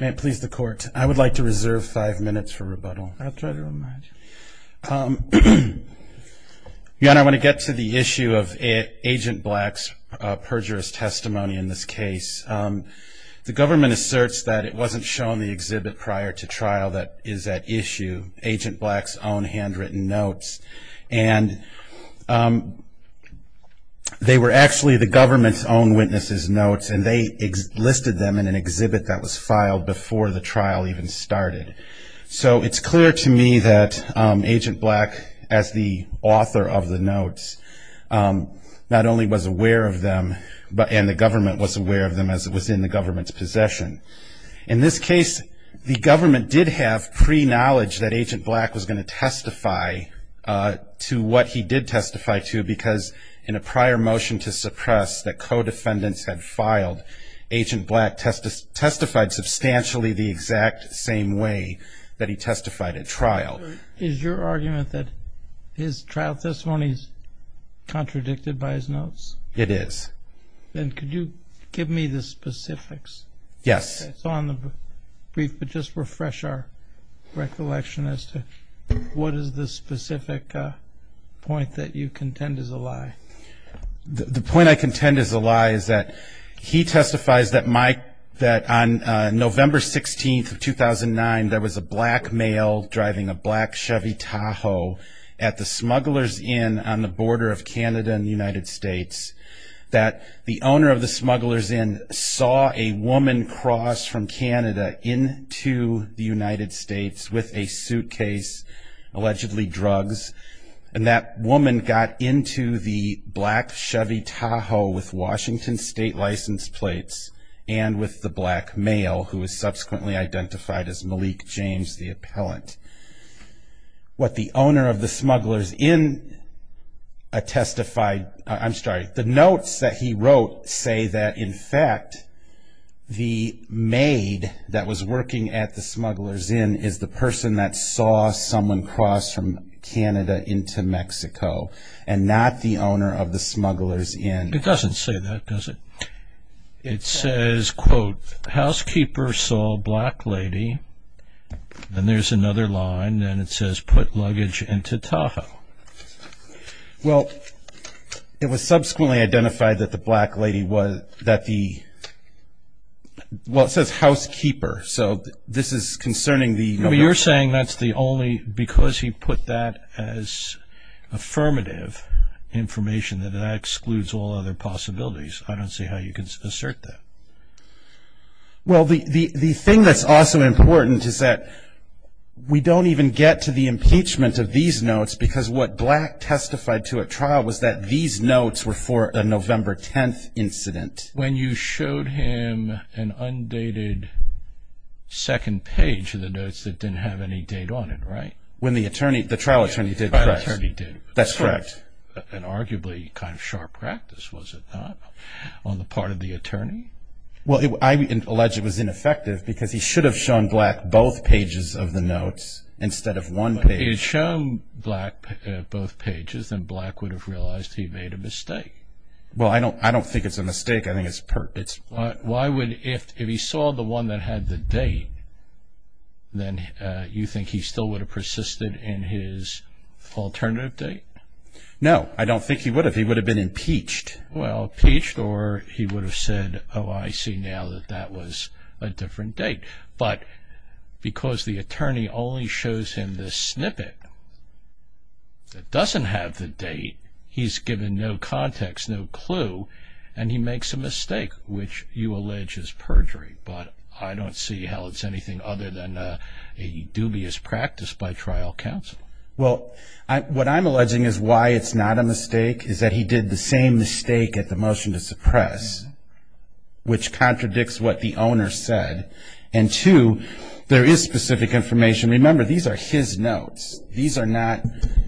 May it please the court, I would like to reserve five minutes for rebuttal. I'll try to remind you. Jan, I want to get to the issue of Agent Black's perjurous testimony in this case. The government asserts that it wasn't shown the exhibit prior to trial that is at issue, Agent Black's own handwritten notes. And they were actually the government's own witnesses notes and they listed them in an exhibit that was filed before the trial even started. So it's clear to me that Agent Black, as the author of the notes, not only was aware of them, and the government was aware of them as it was in the government's possession. In this case, the government did have pre-knowledge that Agent Black was going to testify to what he did testify to because in a prior motion to suppress that co-defendants had filed, Agent Black testified substantially the exact same way that he testified at trial. Is your argument that his trial testimony is contradicted by his notes? It is. Then could you give me the specifics? Yes. So on the brief, but just refresh our recollection as to what is the specific point that you contend is a lie? The point I contend is a lie is that he testifies that on November 16, 2009, there was a black male driving a black Chevy Tahoe at the Smugglers Inn on the border of Canada and the United States, that the owner of the Smugglers Inn saw a woman cross from Canada into the United States with a suitcase, allegedly drugs, and that woman got into the black Chevy Tahoe with Washington State license plates and with the black male who was subsequently identified as Malik James, the appellant. What the owner of the Smugglers Inn testified, I'm sorry, the notes that he wrote say that, in fact, the maid that was working at the Smugglers Inn is the person that saw someone cross from Canada into Mexico and not the owner of the Smugglers Inn. It doesn't say that, does it? It says, quote, housekeeper saw black lady. Then there's another line, and it says put luggage into Tahoe. Well, it was subsequently identified that the black lady was, that the, well, it says housekeeper. So this is concerning the No, but you're saying that's the only, because he put that as affirmative information, that that excludes all other possibilities. I don't see how you can assert that. Well, the thing that's also important is that we don't even get to the impeachment of these notes because what Black testified to at trial was that these notes were for a November 10th incident. When you showed him an undated second page of the notes that didn't have any date on it, right? When the attorney, the trial attorney did press. That's correct. That was an arguably kind of sharp practice, was it not, on the part of the attorney? Well, I would allege it was ineffective because he should have shown Black both pages of the notes instead of one page. If he had shown Black both pages, then Black would have realized he made a mistake. Well, I don't think it's a mistake. Why would, if he saw the one that had the date, then you think he still would have persisted in his alternative date? No, I don't think he would have. He would have been impeached. Well, impeached or he would have said, oh, I see now that that was a different date. But because the attorney only shows him this snippet that doesn't have the date, he's given no context, no clue, and he makes a mistake, which you allege is perjury. But I don't see how it's anything other than a dubious practice by trial counsel. Well, what I'm alleging is why it's not a mistake is that he did the same mistake at the motion to suppress, which contradicts what the owner said. And two, there is specific information. Remember, these are his notes. These are not,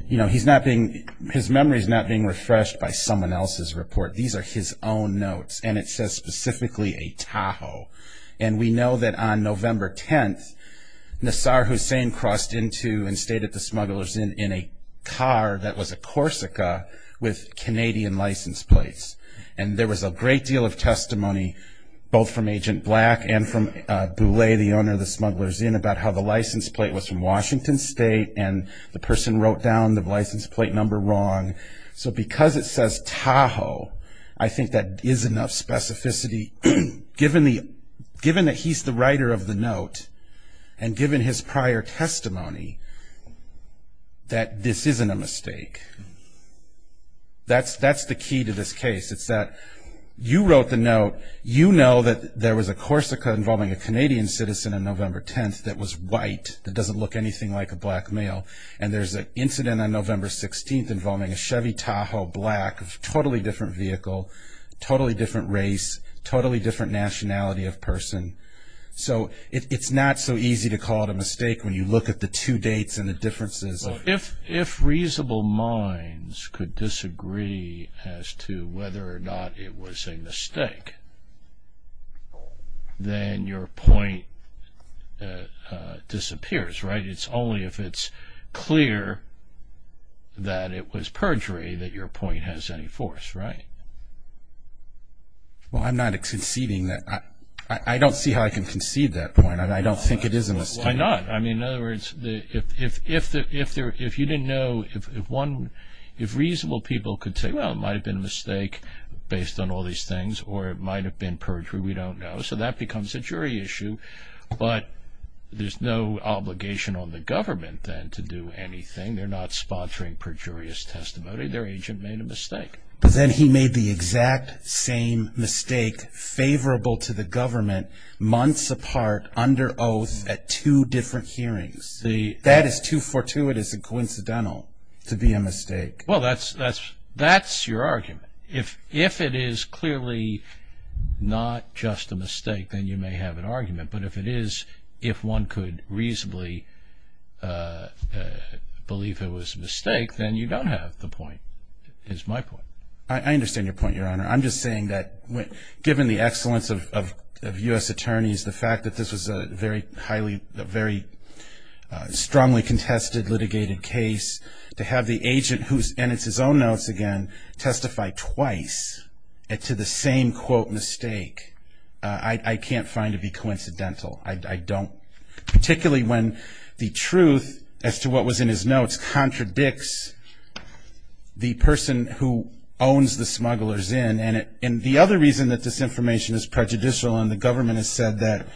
you know, he's not being, his memory is not being refreshed by someone else's report. These are his own notes, and it says specifically a Tahoe. And we know that on November 10th, Nassar Hussein crossed into and stayed at the Smuggler's Inn in a car that was a Corsica with Canadian license plates. And there was a great deal of testimony, both from Agent Black and from Boulay, the owner of the Smuggler's Inn, about how the license plate was from Washington State and the person wrote down the license plate number wrong. So because it says Tahoe, I think that is enough specificity, given that he's the writer of the note and given his prior testimony, that this isn't a mistake. That's the key to this case. It's that you wrote the note. You know that there was a Corsica involving a Canadian citizen on November 10th that was white, that doesn't look anything like a black male. And there's an incident on November 16th involving a Chevy Tahoe, black, totally different vehicle, totally different race, totally different nationality of person. So it's not so easy to call it a mistake when you look at the two dates and the differences. If reasonable minds could disagree as to whether or not it was a mistake, then your point disappears, right? It's only if it's clear that it was perjury that your point has any force, right? Well, I'm not conceding that. I don't see how I can concede that point. I don't think it is a mistake. Why not? I mean, in other words, if you didn't know, if reasonable people could say, well, it might have been a mistake based on all these things or it might have been perjury, we don't know. So that becomes a jury issue. But there's no obligation on the government then to do anything. They're not sponsoring perjurious testimony. Their agent made a mistake. But then he made the exact same mistake favorable to the government months apart under oath at two different hearings. That is too fortuitous and coincidental to be a mistake. Well, that's your argument. If it is clearly not just a mistake, then you may have an argument. But if it is, if one could reasonably believe it was a mistake, then you don't have the point, is my point. I understand your point, Your Honor. I'm just saying that given the excellence of U.S. attorneys, the fact that this was a very highly, very strongly contested litigated case, to have the agent, and it's his own notes again, testify twice to the same, quote, mistake, I can't find to be coincidental. I don't. Particularly when the truth, as to what was in his notes, just contradicts the person who owns the smugglers in. And the other reason that this information is prejudicial and the government has said that,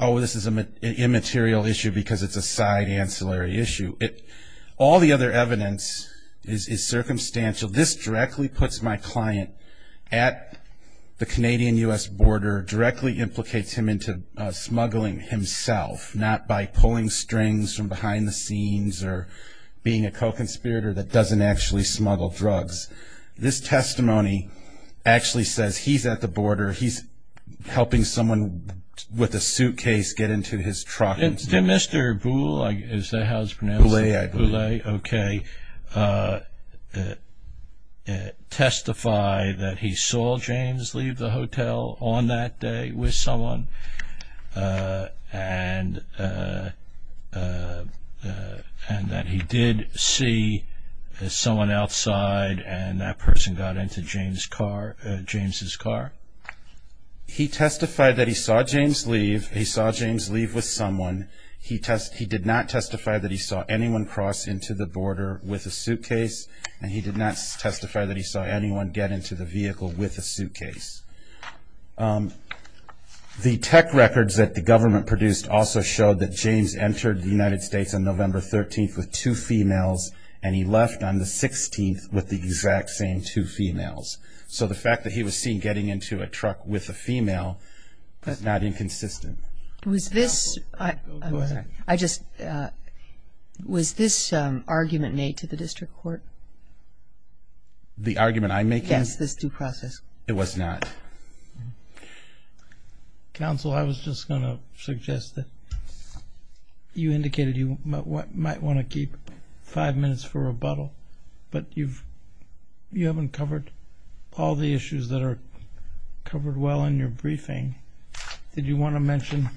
oh, this is an immaterial issue because it's a side ancillary issue. All the other evidence is circumstantial. This directly puts my client at the Canadian-U.S. border, directly implicates him into smuggling himself, not by pulling strings from behind the scenes or being a co-conspirator that doesn't actually smuggle drugs. This testimony actually says he's at the border, he's helping someone with a suitcase get into his truck. Did Mr. Boulle, is that how it's pronounced? Boulle, I believe. Okay. Testify that he saw James leave the hotel on that day with someone and that he did see someone outside and that person got into James' car. He testified that he saw James leave. He saw James leave with someone. He did not testify that he saw anyone cross into the border with a suitcase and he did not testify that he saw anyone get into the vehicle with a suitcase. The tech records that the government produced also showed that James entered the United States on November 13th with two females and he left on the 16th with the exact same two females. So the fact that he was seen getting into a truck with a female is not inconsistent. Was this argument made to the district court? The argument I'm making? Yes, this due process. It was not. Counsel, I was just going to suggest that you indicated you might want to keep five minutes for rebuttal, but you haven't covered all the issues that are covered well in your briefing. Did you want to mention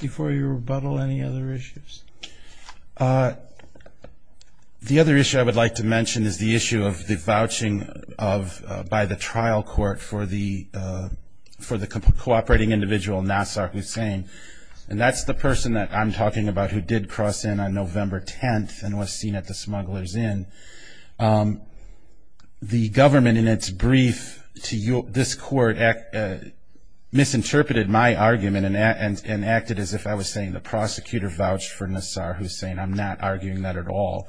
before your rebuttal any other issues? The other issue I would like to mention is the issue of the vouching by the trial court for the cooperating individual, Nassar Hussein, and that's the person that I'm talking about who did cross in on November 10th The government in its brief to this court misinterpreted my argument and acted as if I was saying the prosecutor vouched for Nassar Hussein. I'm not arguing that at all.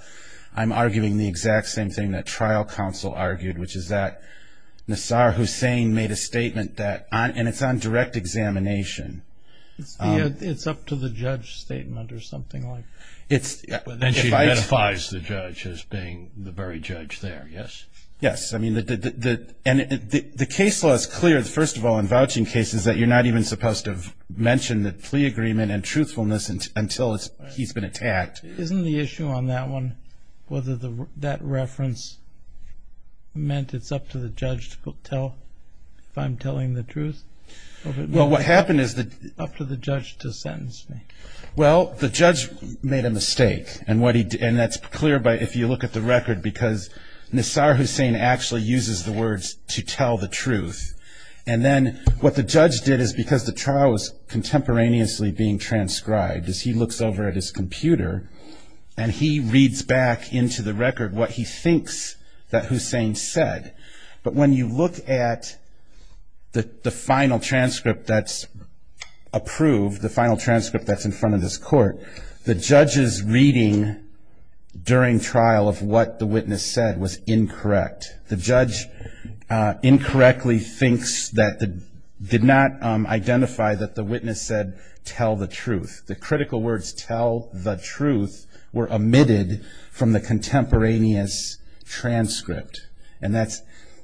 I'm arguing the exact same thing that trial counsel argued, which is that Nassar Hussein made a statement and it's on direct examination. It's up to the judge statement or something like that. And she ratifies the judge as being the very judge there, yes? Yes. I mean, the case law is clear, first of all, in vouching cases that you're not even supposed to mention the plea agreement and truthfulness until he's been attacked. Isn't the issue on that one whether that reference meant it's up to the judge to tell if I'm telling the truth? Well, what happened is that... Up to the judge to sentence me. Well, the judge made a mistake and that's clear if you look at the record because Nassar Hussein actually uses the words to tell the truth. And then what the judge did is because the trial is contemporaneously being transcribed, is he looks over at his computer and he reads back into the record what he thinks that Hussein said. But when you look at the final transcript that's approved, the final transcript that's in front of this court, the judge's reading during trial of what the witness said was incorrect. The judge incorrectly thinks that the... did not identify that the witness said, tell the truth. The critical words, tell the truth, were omitted from the contemporaneous transcript. And that's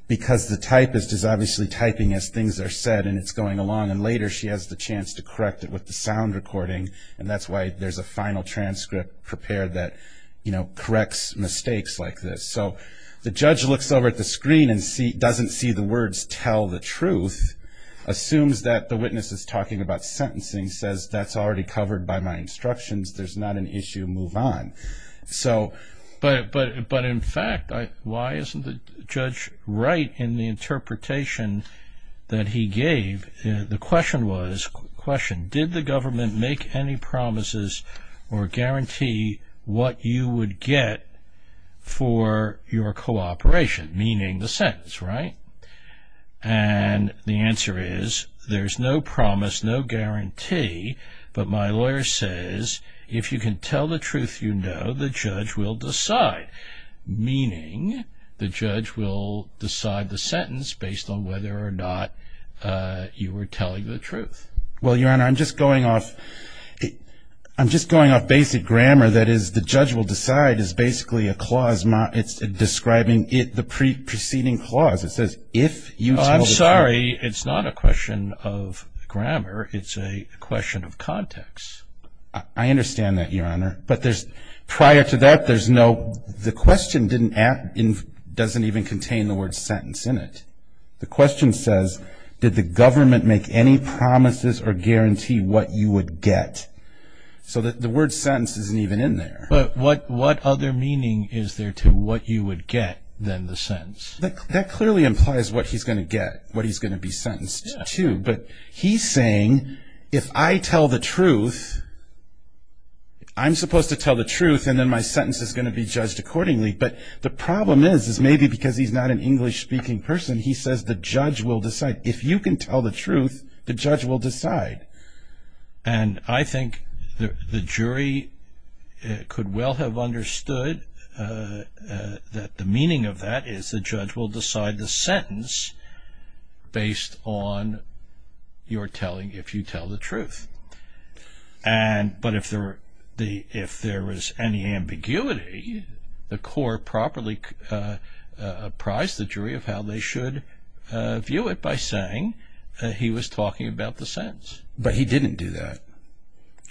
because the typist is obviously typing as things are said and it's going along and later she has the chance to correct it with the sound recording and that's why there's a final transcript prepared that corrects mistakes like this. So the judge looks over at the screen and doesn't see the words tell the truth, assumes that the witness is talking about sentencing, says that's already covered by my instructions, there's not an issue, move on. But in fact, why isn't the judge right in the interpretation that he gave? The question was, question, did the government make any promises or guarantee what you would get for your cooperation, meaning the sentence, right? And the answer is, there's no promise, no guarantee, but my lawyer says, if you can tell the truth, you know, the judge will decide. Meaning, the judge will decide the sentence based on whether or not you were telling the truth. Well, Your Honor, I'm just going off... I'm just going off basic grammar, that is, the judge will decide is basically a clause, it's describing the preceding clause, it says, if you tell the truth... It's a question of context. I understand that, Your Honor, but there's... Prior to that, there's no... The question didn't... doesn't even contain the word sentence in it. The question says, did the government make any promises or guarantee what you would get? So the word sentence isn't even in there. But what other meaning is there to what you would get than the sentence? That clearly implies what he's going to get, what he's going to be sentenced to, but he's saying, if I tell the truth, I'm supposed to tell the truth and then my sentence is going to be judged accordingly. But the problem is, is maybe because he's not an English-speaking person, he says, the judge will decide. If you can tell the truth, the judge will decide. And I think the jury could well have understood that the meaning of that is the judge will decide the sentence based on your telling... if you tell the truth. And... but if there were... if there was any ambiguity, the court properly apprised the jury of how they should view it by saying he was talking about the sentence. But he didn't do that.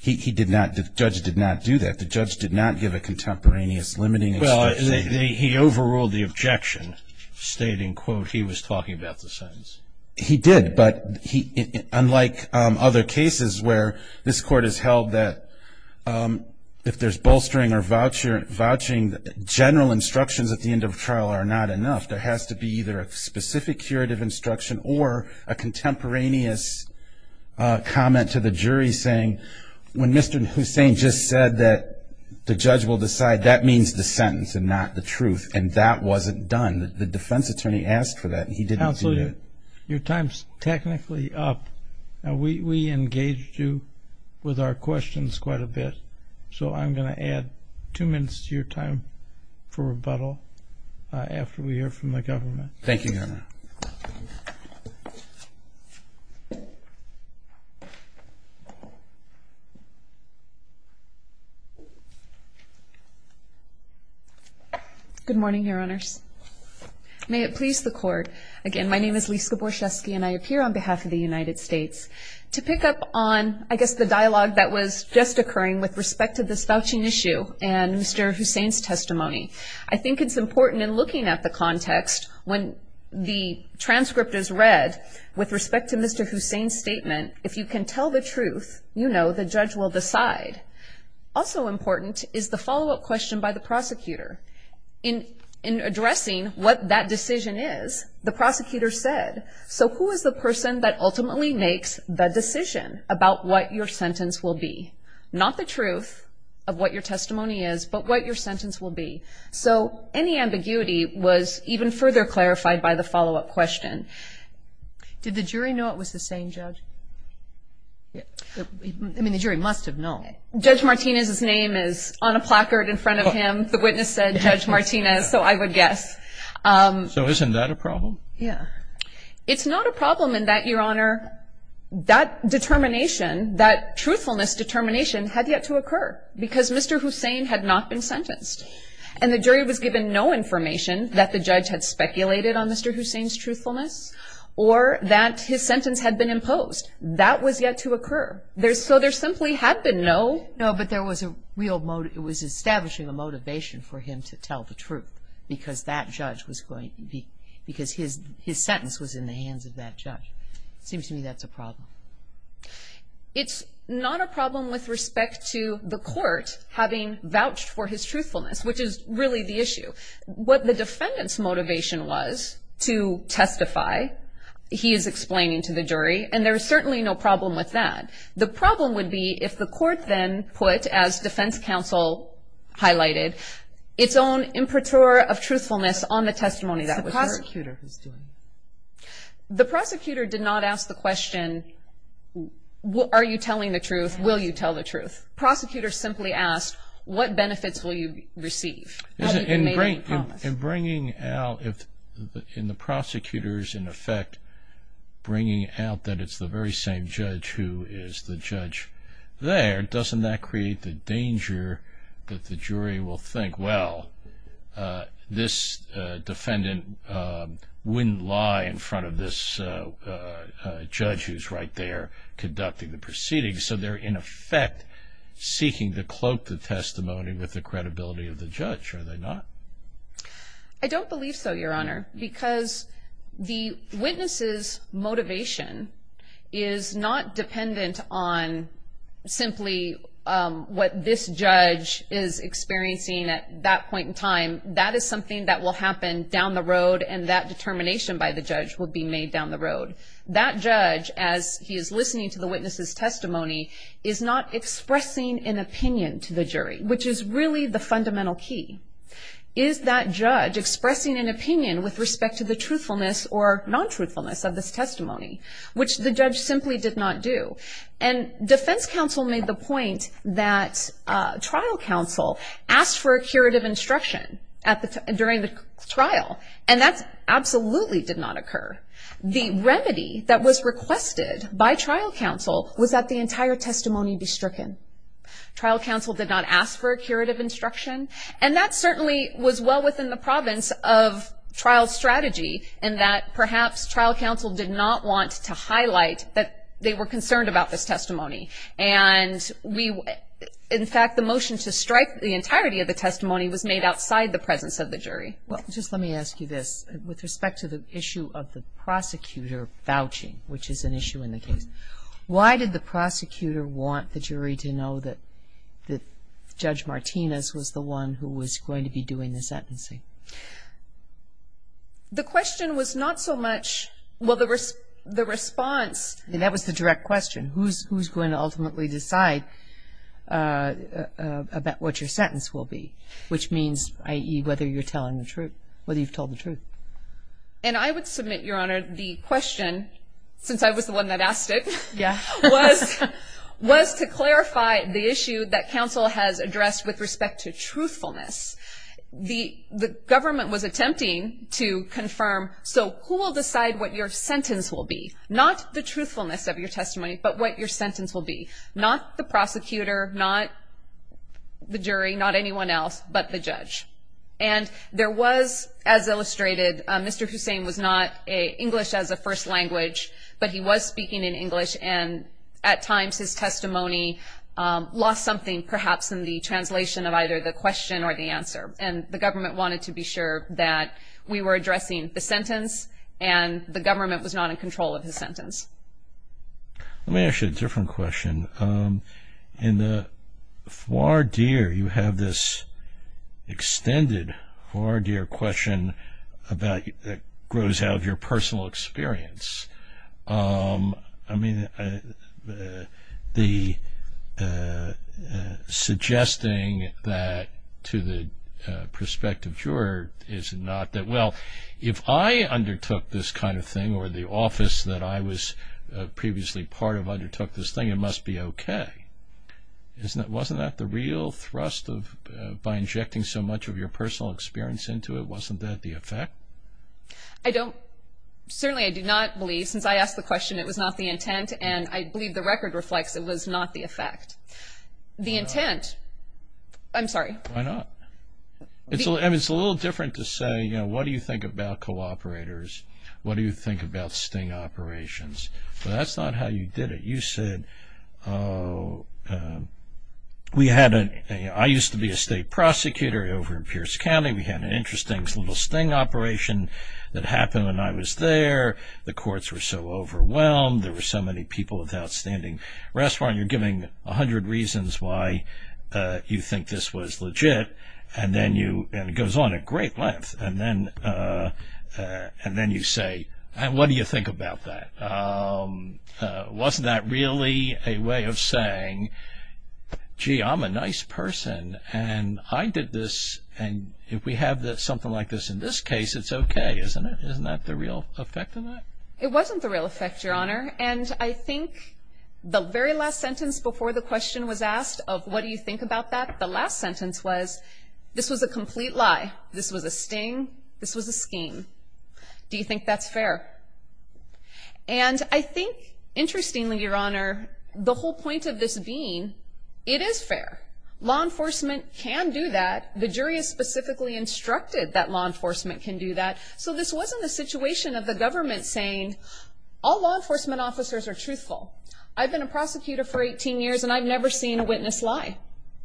He did not... the judge did not do that. The judge did not give a contemporaneous limiting... Well, he overruled the objection, stating, quote, he was talking about the sentence. He did, but unlike other cases where this court has held that if there's bolstering or vouching, general instructions at the end of a trial are not enough. There has to be either a specific curative instruction or a contemporaneous comment to the jury saying, when Mr. Hussain just said that the judge will decide, that means the sentence and not the truth. And that wasn't done. The defense attorney asked for that, and he didn't do that. Counselor, your time's technically up. We engaged you with our questions quite a bit, so I'm going to add two minutes to your time for rebuttal after we hear from the government. Thank you, Your Honor. Good morning, Your Honors. May it please the Court, again, my name is Lisa Borczewski, and I appear on behalf of the United States. To pick up on, I guess, the dialogue that was just occurring with respect to this vouching issue and Mr. Hussain's testimony, I think it's important in looking at the context when the transcript is read, with respect to Mr. Hussain's statement, if you can tell the truth, you know the judge will decide. Also important is the follow-up question by the prosecutor. In addressing what that decision is, the prosecutor said, so who is the person that ultimately makes the decision about what your sentence will be? Not the truth of what your testimony is, but what your sentence will be. So any ambiguity was even further clarified by the follow-up question. Did the jury know it was the same judge? I mean, the jury must have known. Judge Martinez's name is on a placard in front of him. The witness said Judge Martinez, so I would guess. So isn't that a problem? Yeah. It's not a problem in that, Your Honor, that determination, that truthfulness determination had yet to occur, because Mr. Hussain had not been sentenced. And the jury was given no information that the judge had speculated on Mr. Hussain's truthfulness, or that his sentence had been imposed. That was yet to occur. So there simply had been no. No, but there was a real motive. It was establishing a motivation for him to tell the truth, because that judge was going to be, because his sentence was in the hands of that judge. It seems to me that's a problem. It's not a problem with respect to the court having vouched for his truthfulness, which is really the issue. What the defendant's motivation was to testify, he is explaining to the jury, and there is certainly no problem with that. The problem would be if the court then put, as defense counsel highlighted, its own impreteur of truthfulness on the testimony that was heard. It's the prosecutor who's doing it. The prosecutor did not ask the question, are you telling the truth, will you tell the truth? The prosecutor simply asked, what benefits will you receive? In bringing out, in the prosecutor's, in effect, bringing out that it's the very same judge who is the judge there, doesn't that create the danger that the jury will think, well, this defendant wouldn't lie in front of this judge who's right there conducting the proceedings. So they're in effect seeking to cloak the testimony with the credibility of the judge, are they not? I don't believe so, Your Honor, because the witness's motivation is not dependent on simply what this judge is That is something that will happen down the road, and that determination by the judge will be made down the road. That judge, as he is listening to the witness's testimony, is not expressing an opinion to the jury, which is really the fundamental key. Is that judge expressing an opinion with respect to the truthfulness or non-truthfulness of this testimony, which the judge simply did not do? And defense counsel made the point that trial counsel asked for a curative instruction during the trial, and that absolutely did not occur. The remedy that was requested by trial counsel was that the entire testimony be stricken. Trial counsel did not ask for a curative instruction, and that certainly was well within the province of trial strategy in that perhaps trial counsel did not want to highlight that they were concerned about this testimony. And in fact, the motion to strike the entirety of the testimony was made outside the presence of the jury. Well, just let me ask you this. With respect to the issue of the prosecutor vouching, which is an issue in the case, why did the prosecutor want the jury to know that Judge Martinez was the one who was going to be doing the sentencing? The question was not so much the response. That was the direct question. Who's going to ultimately decide about what your sentence will be, which means, i.e., whether you're telling the truth, whether you've told the truth? And I would submit, Your Honor, the question, since I was the one that asked it, was to clarify the issue that counsel has addressed with respect to truthfulness. The government was attempting to confirm, so who will decide what your sentence will be? Not the truthfulness of your testimony, but what your sentence will be. Not the prosecutor, not the jury, not anyone else, but the judge. And there was, as illustrated, Mr. Hussein was not English as a first language, but he was speaking in English, and at times his testimony lost something perhaps in the translation of either the question or the answer. And the government wanted to be sure that we were addressing the sentence, and the government was not in control of his sentence. Let me ask you a different question. In the foie d'oeil, you have this extended foie d'oeil question that grows out of your personal experience. I mean, suggesting that to the prospective juror, is it not that, well, if I undertook this kind of thing, or the office that I was previously part of undertook this thing, it must be okay. Wasn't that the real thrust by injecting so much of your personal experience into it? Wasn't that the effect? I don't, certainly I do not believe, since I asked the question, it was not the intent, and I believe the record reflects it was not the effect. The intent, I'm sorry. Why not? I mean, it's a little different to say, you know, what do you think about cooperators? What do you think about sting operations? But that's not how you did it. You said, we had a, I used to be a state prosecutor over in Pierce County. We had an interesting little sting operation that happened when I was there. The courts were so overwhelmed. There were so many people with outstanding restaurant. You're giving a hundred reasons why you think this was legit, and then you, and it goes on at great length, and then you say, what do you think about that? Wasn't that really a way of saying, gee, I'm a nice person, and I did this, and if we have something like this in this case, it's okay, isn't it? Isn't that the real effect of that? It wasn't the real effect, Your Honor, and I think the very last sentence before the question was asked of what do you think about that, the last sentence was, this was a complete lie. This was a sting. This was a scheme. Do you think that's fair? And I think, interestingly, Your Honor, the whole point of this being, it is fair. Law enforcement can do that. The jury has specifically instructed that law enforcement can do that. So this wasn't a situation of the government saying, all law enforcement officers are truthful. I've been a prosecutor for 18 years, and I've never seen a witness lie,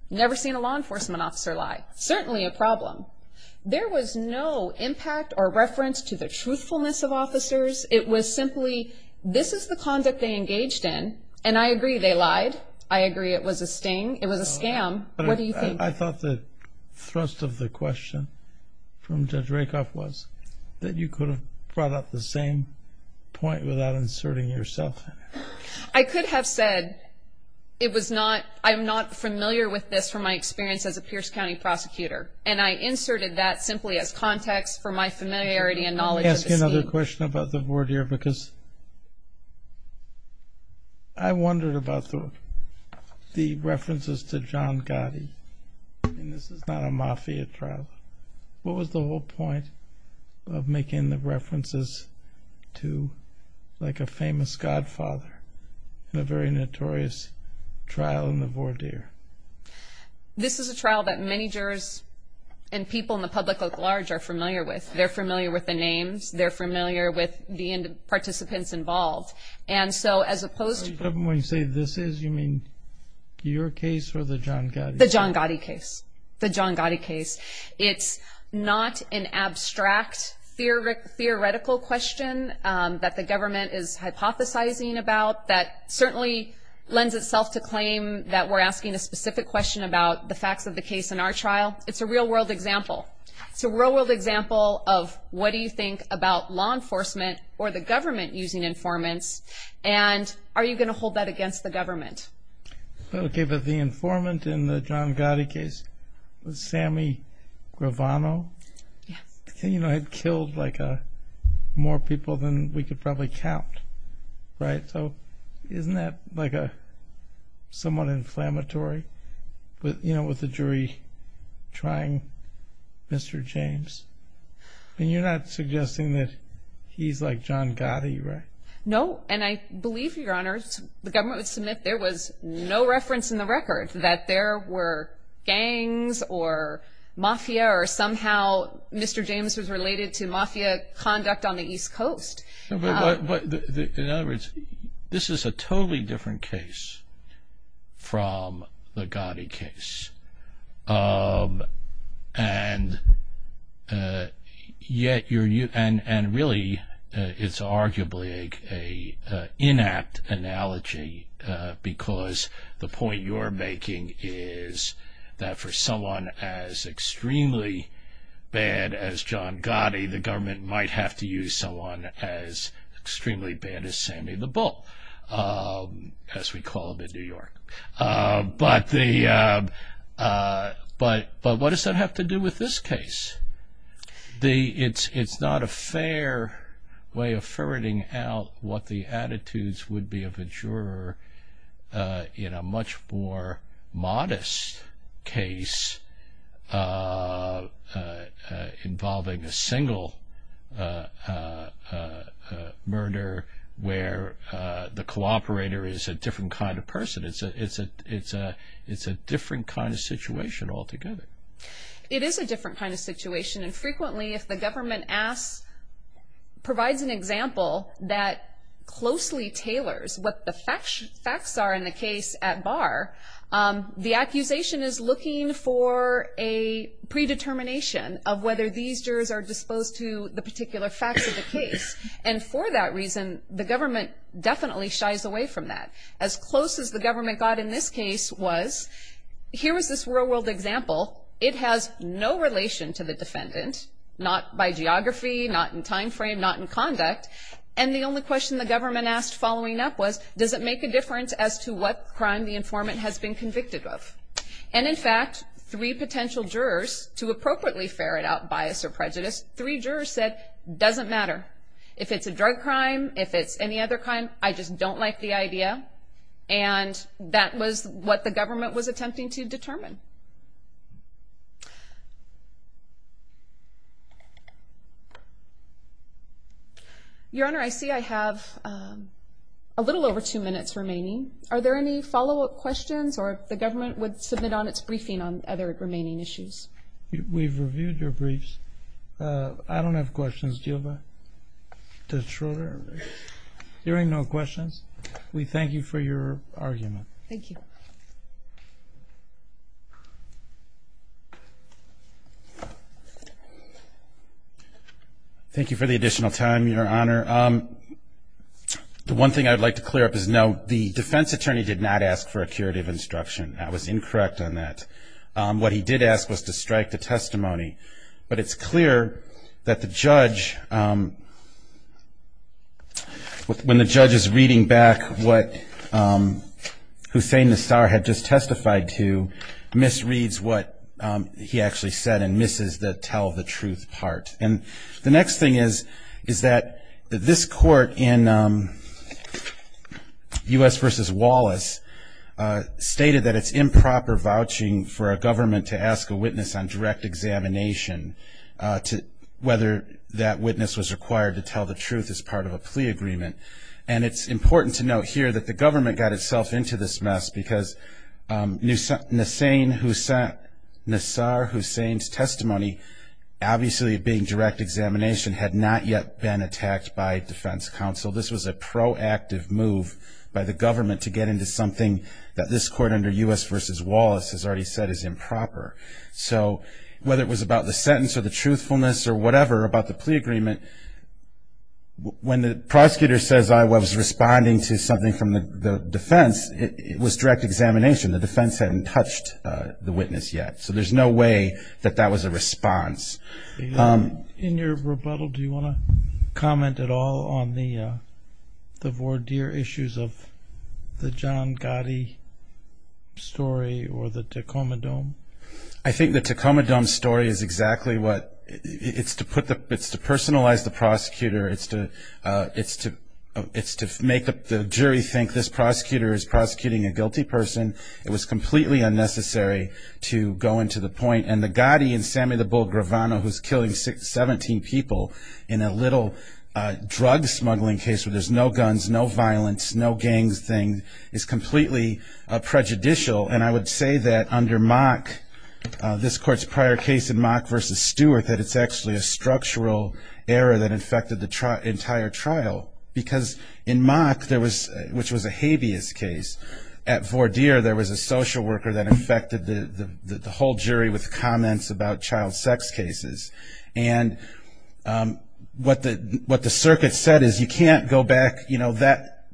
never seen a law enforcement officer lie. Certainly a problem. There was no impact or reference to the truthfulness of officers. It was simply, this is the conduct they engaged in, and I agree they lied. I agree it was a sting. It was a scam. What do you think? I thought the thrust of the question from Judge Rakoff was that you could have brought up the same point without inserting yourself in it. I could have said it was not, I'm not familiar with this from my experience as a Pierce County prosecutor, and I inserted that simply as context for my familiarity and knowledge of the scheme. I have another question about the voir dire, because I wondered about the references to John Gotti. This is not a mafia trial. What was the whole point of making the references to, like, a famous godfather in a very notorious trial in the voir dire? This is a trial that many jurors and people in the public at large are familiar with. They're familiar with the names. They're familiar with the participants involved, and so as opposed to When you say this is, you mean your case or the John Gotti case? The John Gotti case. The John Gotti case. It's not an abstract theoretical question that the government is hypothesizing about that certainly lends itself to claim that we're asking a specific question about the facts of the case in our trial. It's a real-world example. It's a real-world example of what do you think about law enforcement or the government using informants, and are you going to hold that against the government? Okay, but the informant in the John Gotti case was Sammy Gravano. Yes. You know, it killed, like, more people than we could probably count, right? So isn't that, like, somewhat inflammatory, you know, with the jury trying Mr. James? I mean, you're not suggesting that he's like John Gotti, right? No, and I believe, Your Honors, the government would submit there was no reference in the record that there were gangs or mafia or somehow Mr. James was related to mafia conduct on the East Coast. But in other words, this is a totally different case from the Gotti case, and really it's arguably an inapt analogy because the point you're making is that for someone as extremely bad as John Gotti, the government might have to use someone as extremely bad as Sammy the Bull, as we call him in New York. But what does that have to do with this case? It's not a fair way of ferreting out what the attitudes would be of a juror in a much more modest case involving a single murder where the cooperator is a different kind of person. It's a different kind of situation altogether. It is a different kind of situation, and frequently if the government provides an example that closely tailors what the facts are in the case at bar, the accusation is looking for a predetermination of whether these jurors are disposed to the particular facts of the case. And for that reason, the government definitely shies away from that. As close as the government got in this case was here was this real-world example. It has no relation to the defendant, not by geography, not in time frame, not in conduct. And the only question the government asked following up was, does it make a difference as to what crime the informant has been convicted of? And in fact, three potential jurors, to appropriately ferret out bias or prejudice, three jurors said, doesn't matter. If it's a drug crime, if it's any other crime, I just don't like the idea. And that was what the government was attempting to determine. Your Honor, I see I have a little over two minutes remaining. Are there any follow-up questions, or if the government would submit on its briefing on other remaining issues? We've reviewed your briefs. I don't have questions to deal with. Judge Schroeder? Hearing no questions. We thank you for your argument. Thank you. Thank you for the additional time, Your Honor. The one thing I would like to clear up is, no, the defense attorney did not ask for a curative instruction. I was incorrect on that. What he did ask was to strike the testimony. But it's clear that the judge, when the judge is reading back what Hussein Nassar had just testified to, misreads what he actually said and misses the tell the truth part. And the next thing is, is that this court in U.S. v. Wallace stated that it's improper vouching for a government to ask a witness on direct examination whether that witness was required to tell the truth as part of a plea agreement. And it's important to note here that the government got itself into this mess because Nassar Hussein's testimony, obviously being direct examination, had not yet been attacked by defense counsel. This was a proactive move by the government to get into something that this court under U.S. v. Wallace has already said is improper. So whether it was about the sentence or the truthfulness or whatever about the plea agreement, when the prosecutor says I was responding to something from the defense, it was direct examination. The defense hadn't touched the witness yet. So there's no way that that was a response. In your rebuttal, do you want to comment at all on the voir dire issues of the John Gotti story or the Tacoma Dome? I think the Tacoma Dome story is exactly what, it's to personalize the prosecutor. It's to make the jury think this prosecutor is prosecuting a guilty person. It was completely unnecessary to go into the point. And the Gotti and Sammy the Bull Gravano, who's killing 17 people in a little drug smuggling case where there's no guns, no violence, no gang thing, is completely prejudicial. And I would say that under Mock, this court's prior case in Mock v. Stewart, that it's actually a structural error that infected the entire trial. Because in Mock, which was a habeas case, at voir dire there was a social worker that infected the whole jury with comments about child sex cases. And what the circuit said is you can't go back, you know, that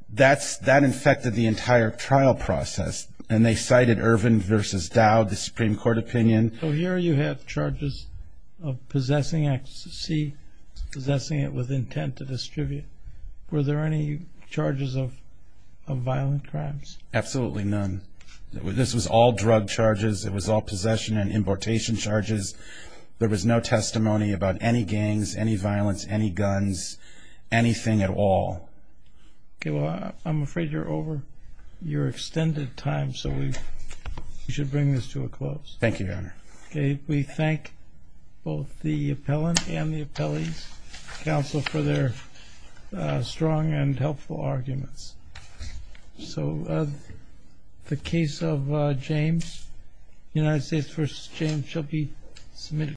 infected the entire trial process. They divided Ervin v. Dowd, the Supreme Court opinion. So here you have charges of possessing XC, possessing it with intent to distribute. Were there any charges of violent crimes? Absolutely none. This was all drug charges. It was all possession and importation charges. There was no testimony about any gangs, any violence, any guns, anything at all. Well, I'm afraid you're over your extended time, so we should bring this to a close. Thank you, Your Honor. We thank both the appellant and the appellee's counsel for their strong and helpful arguments. So the case of James, United States v. James, shall be submitted to the Supreme Court.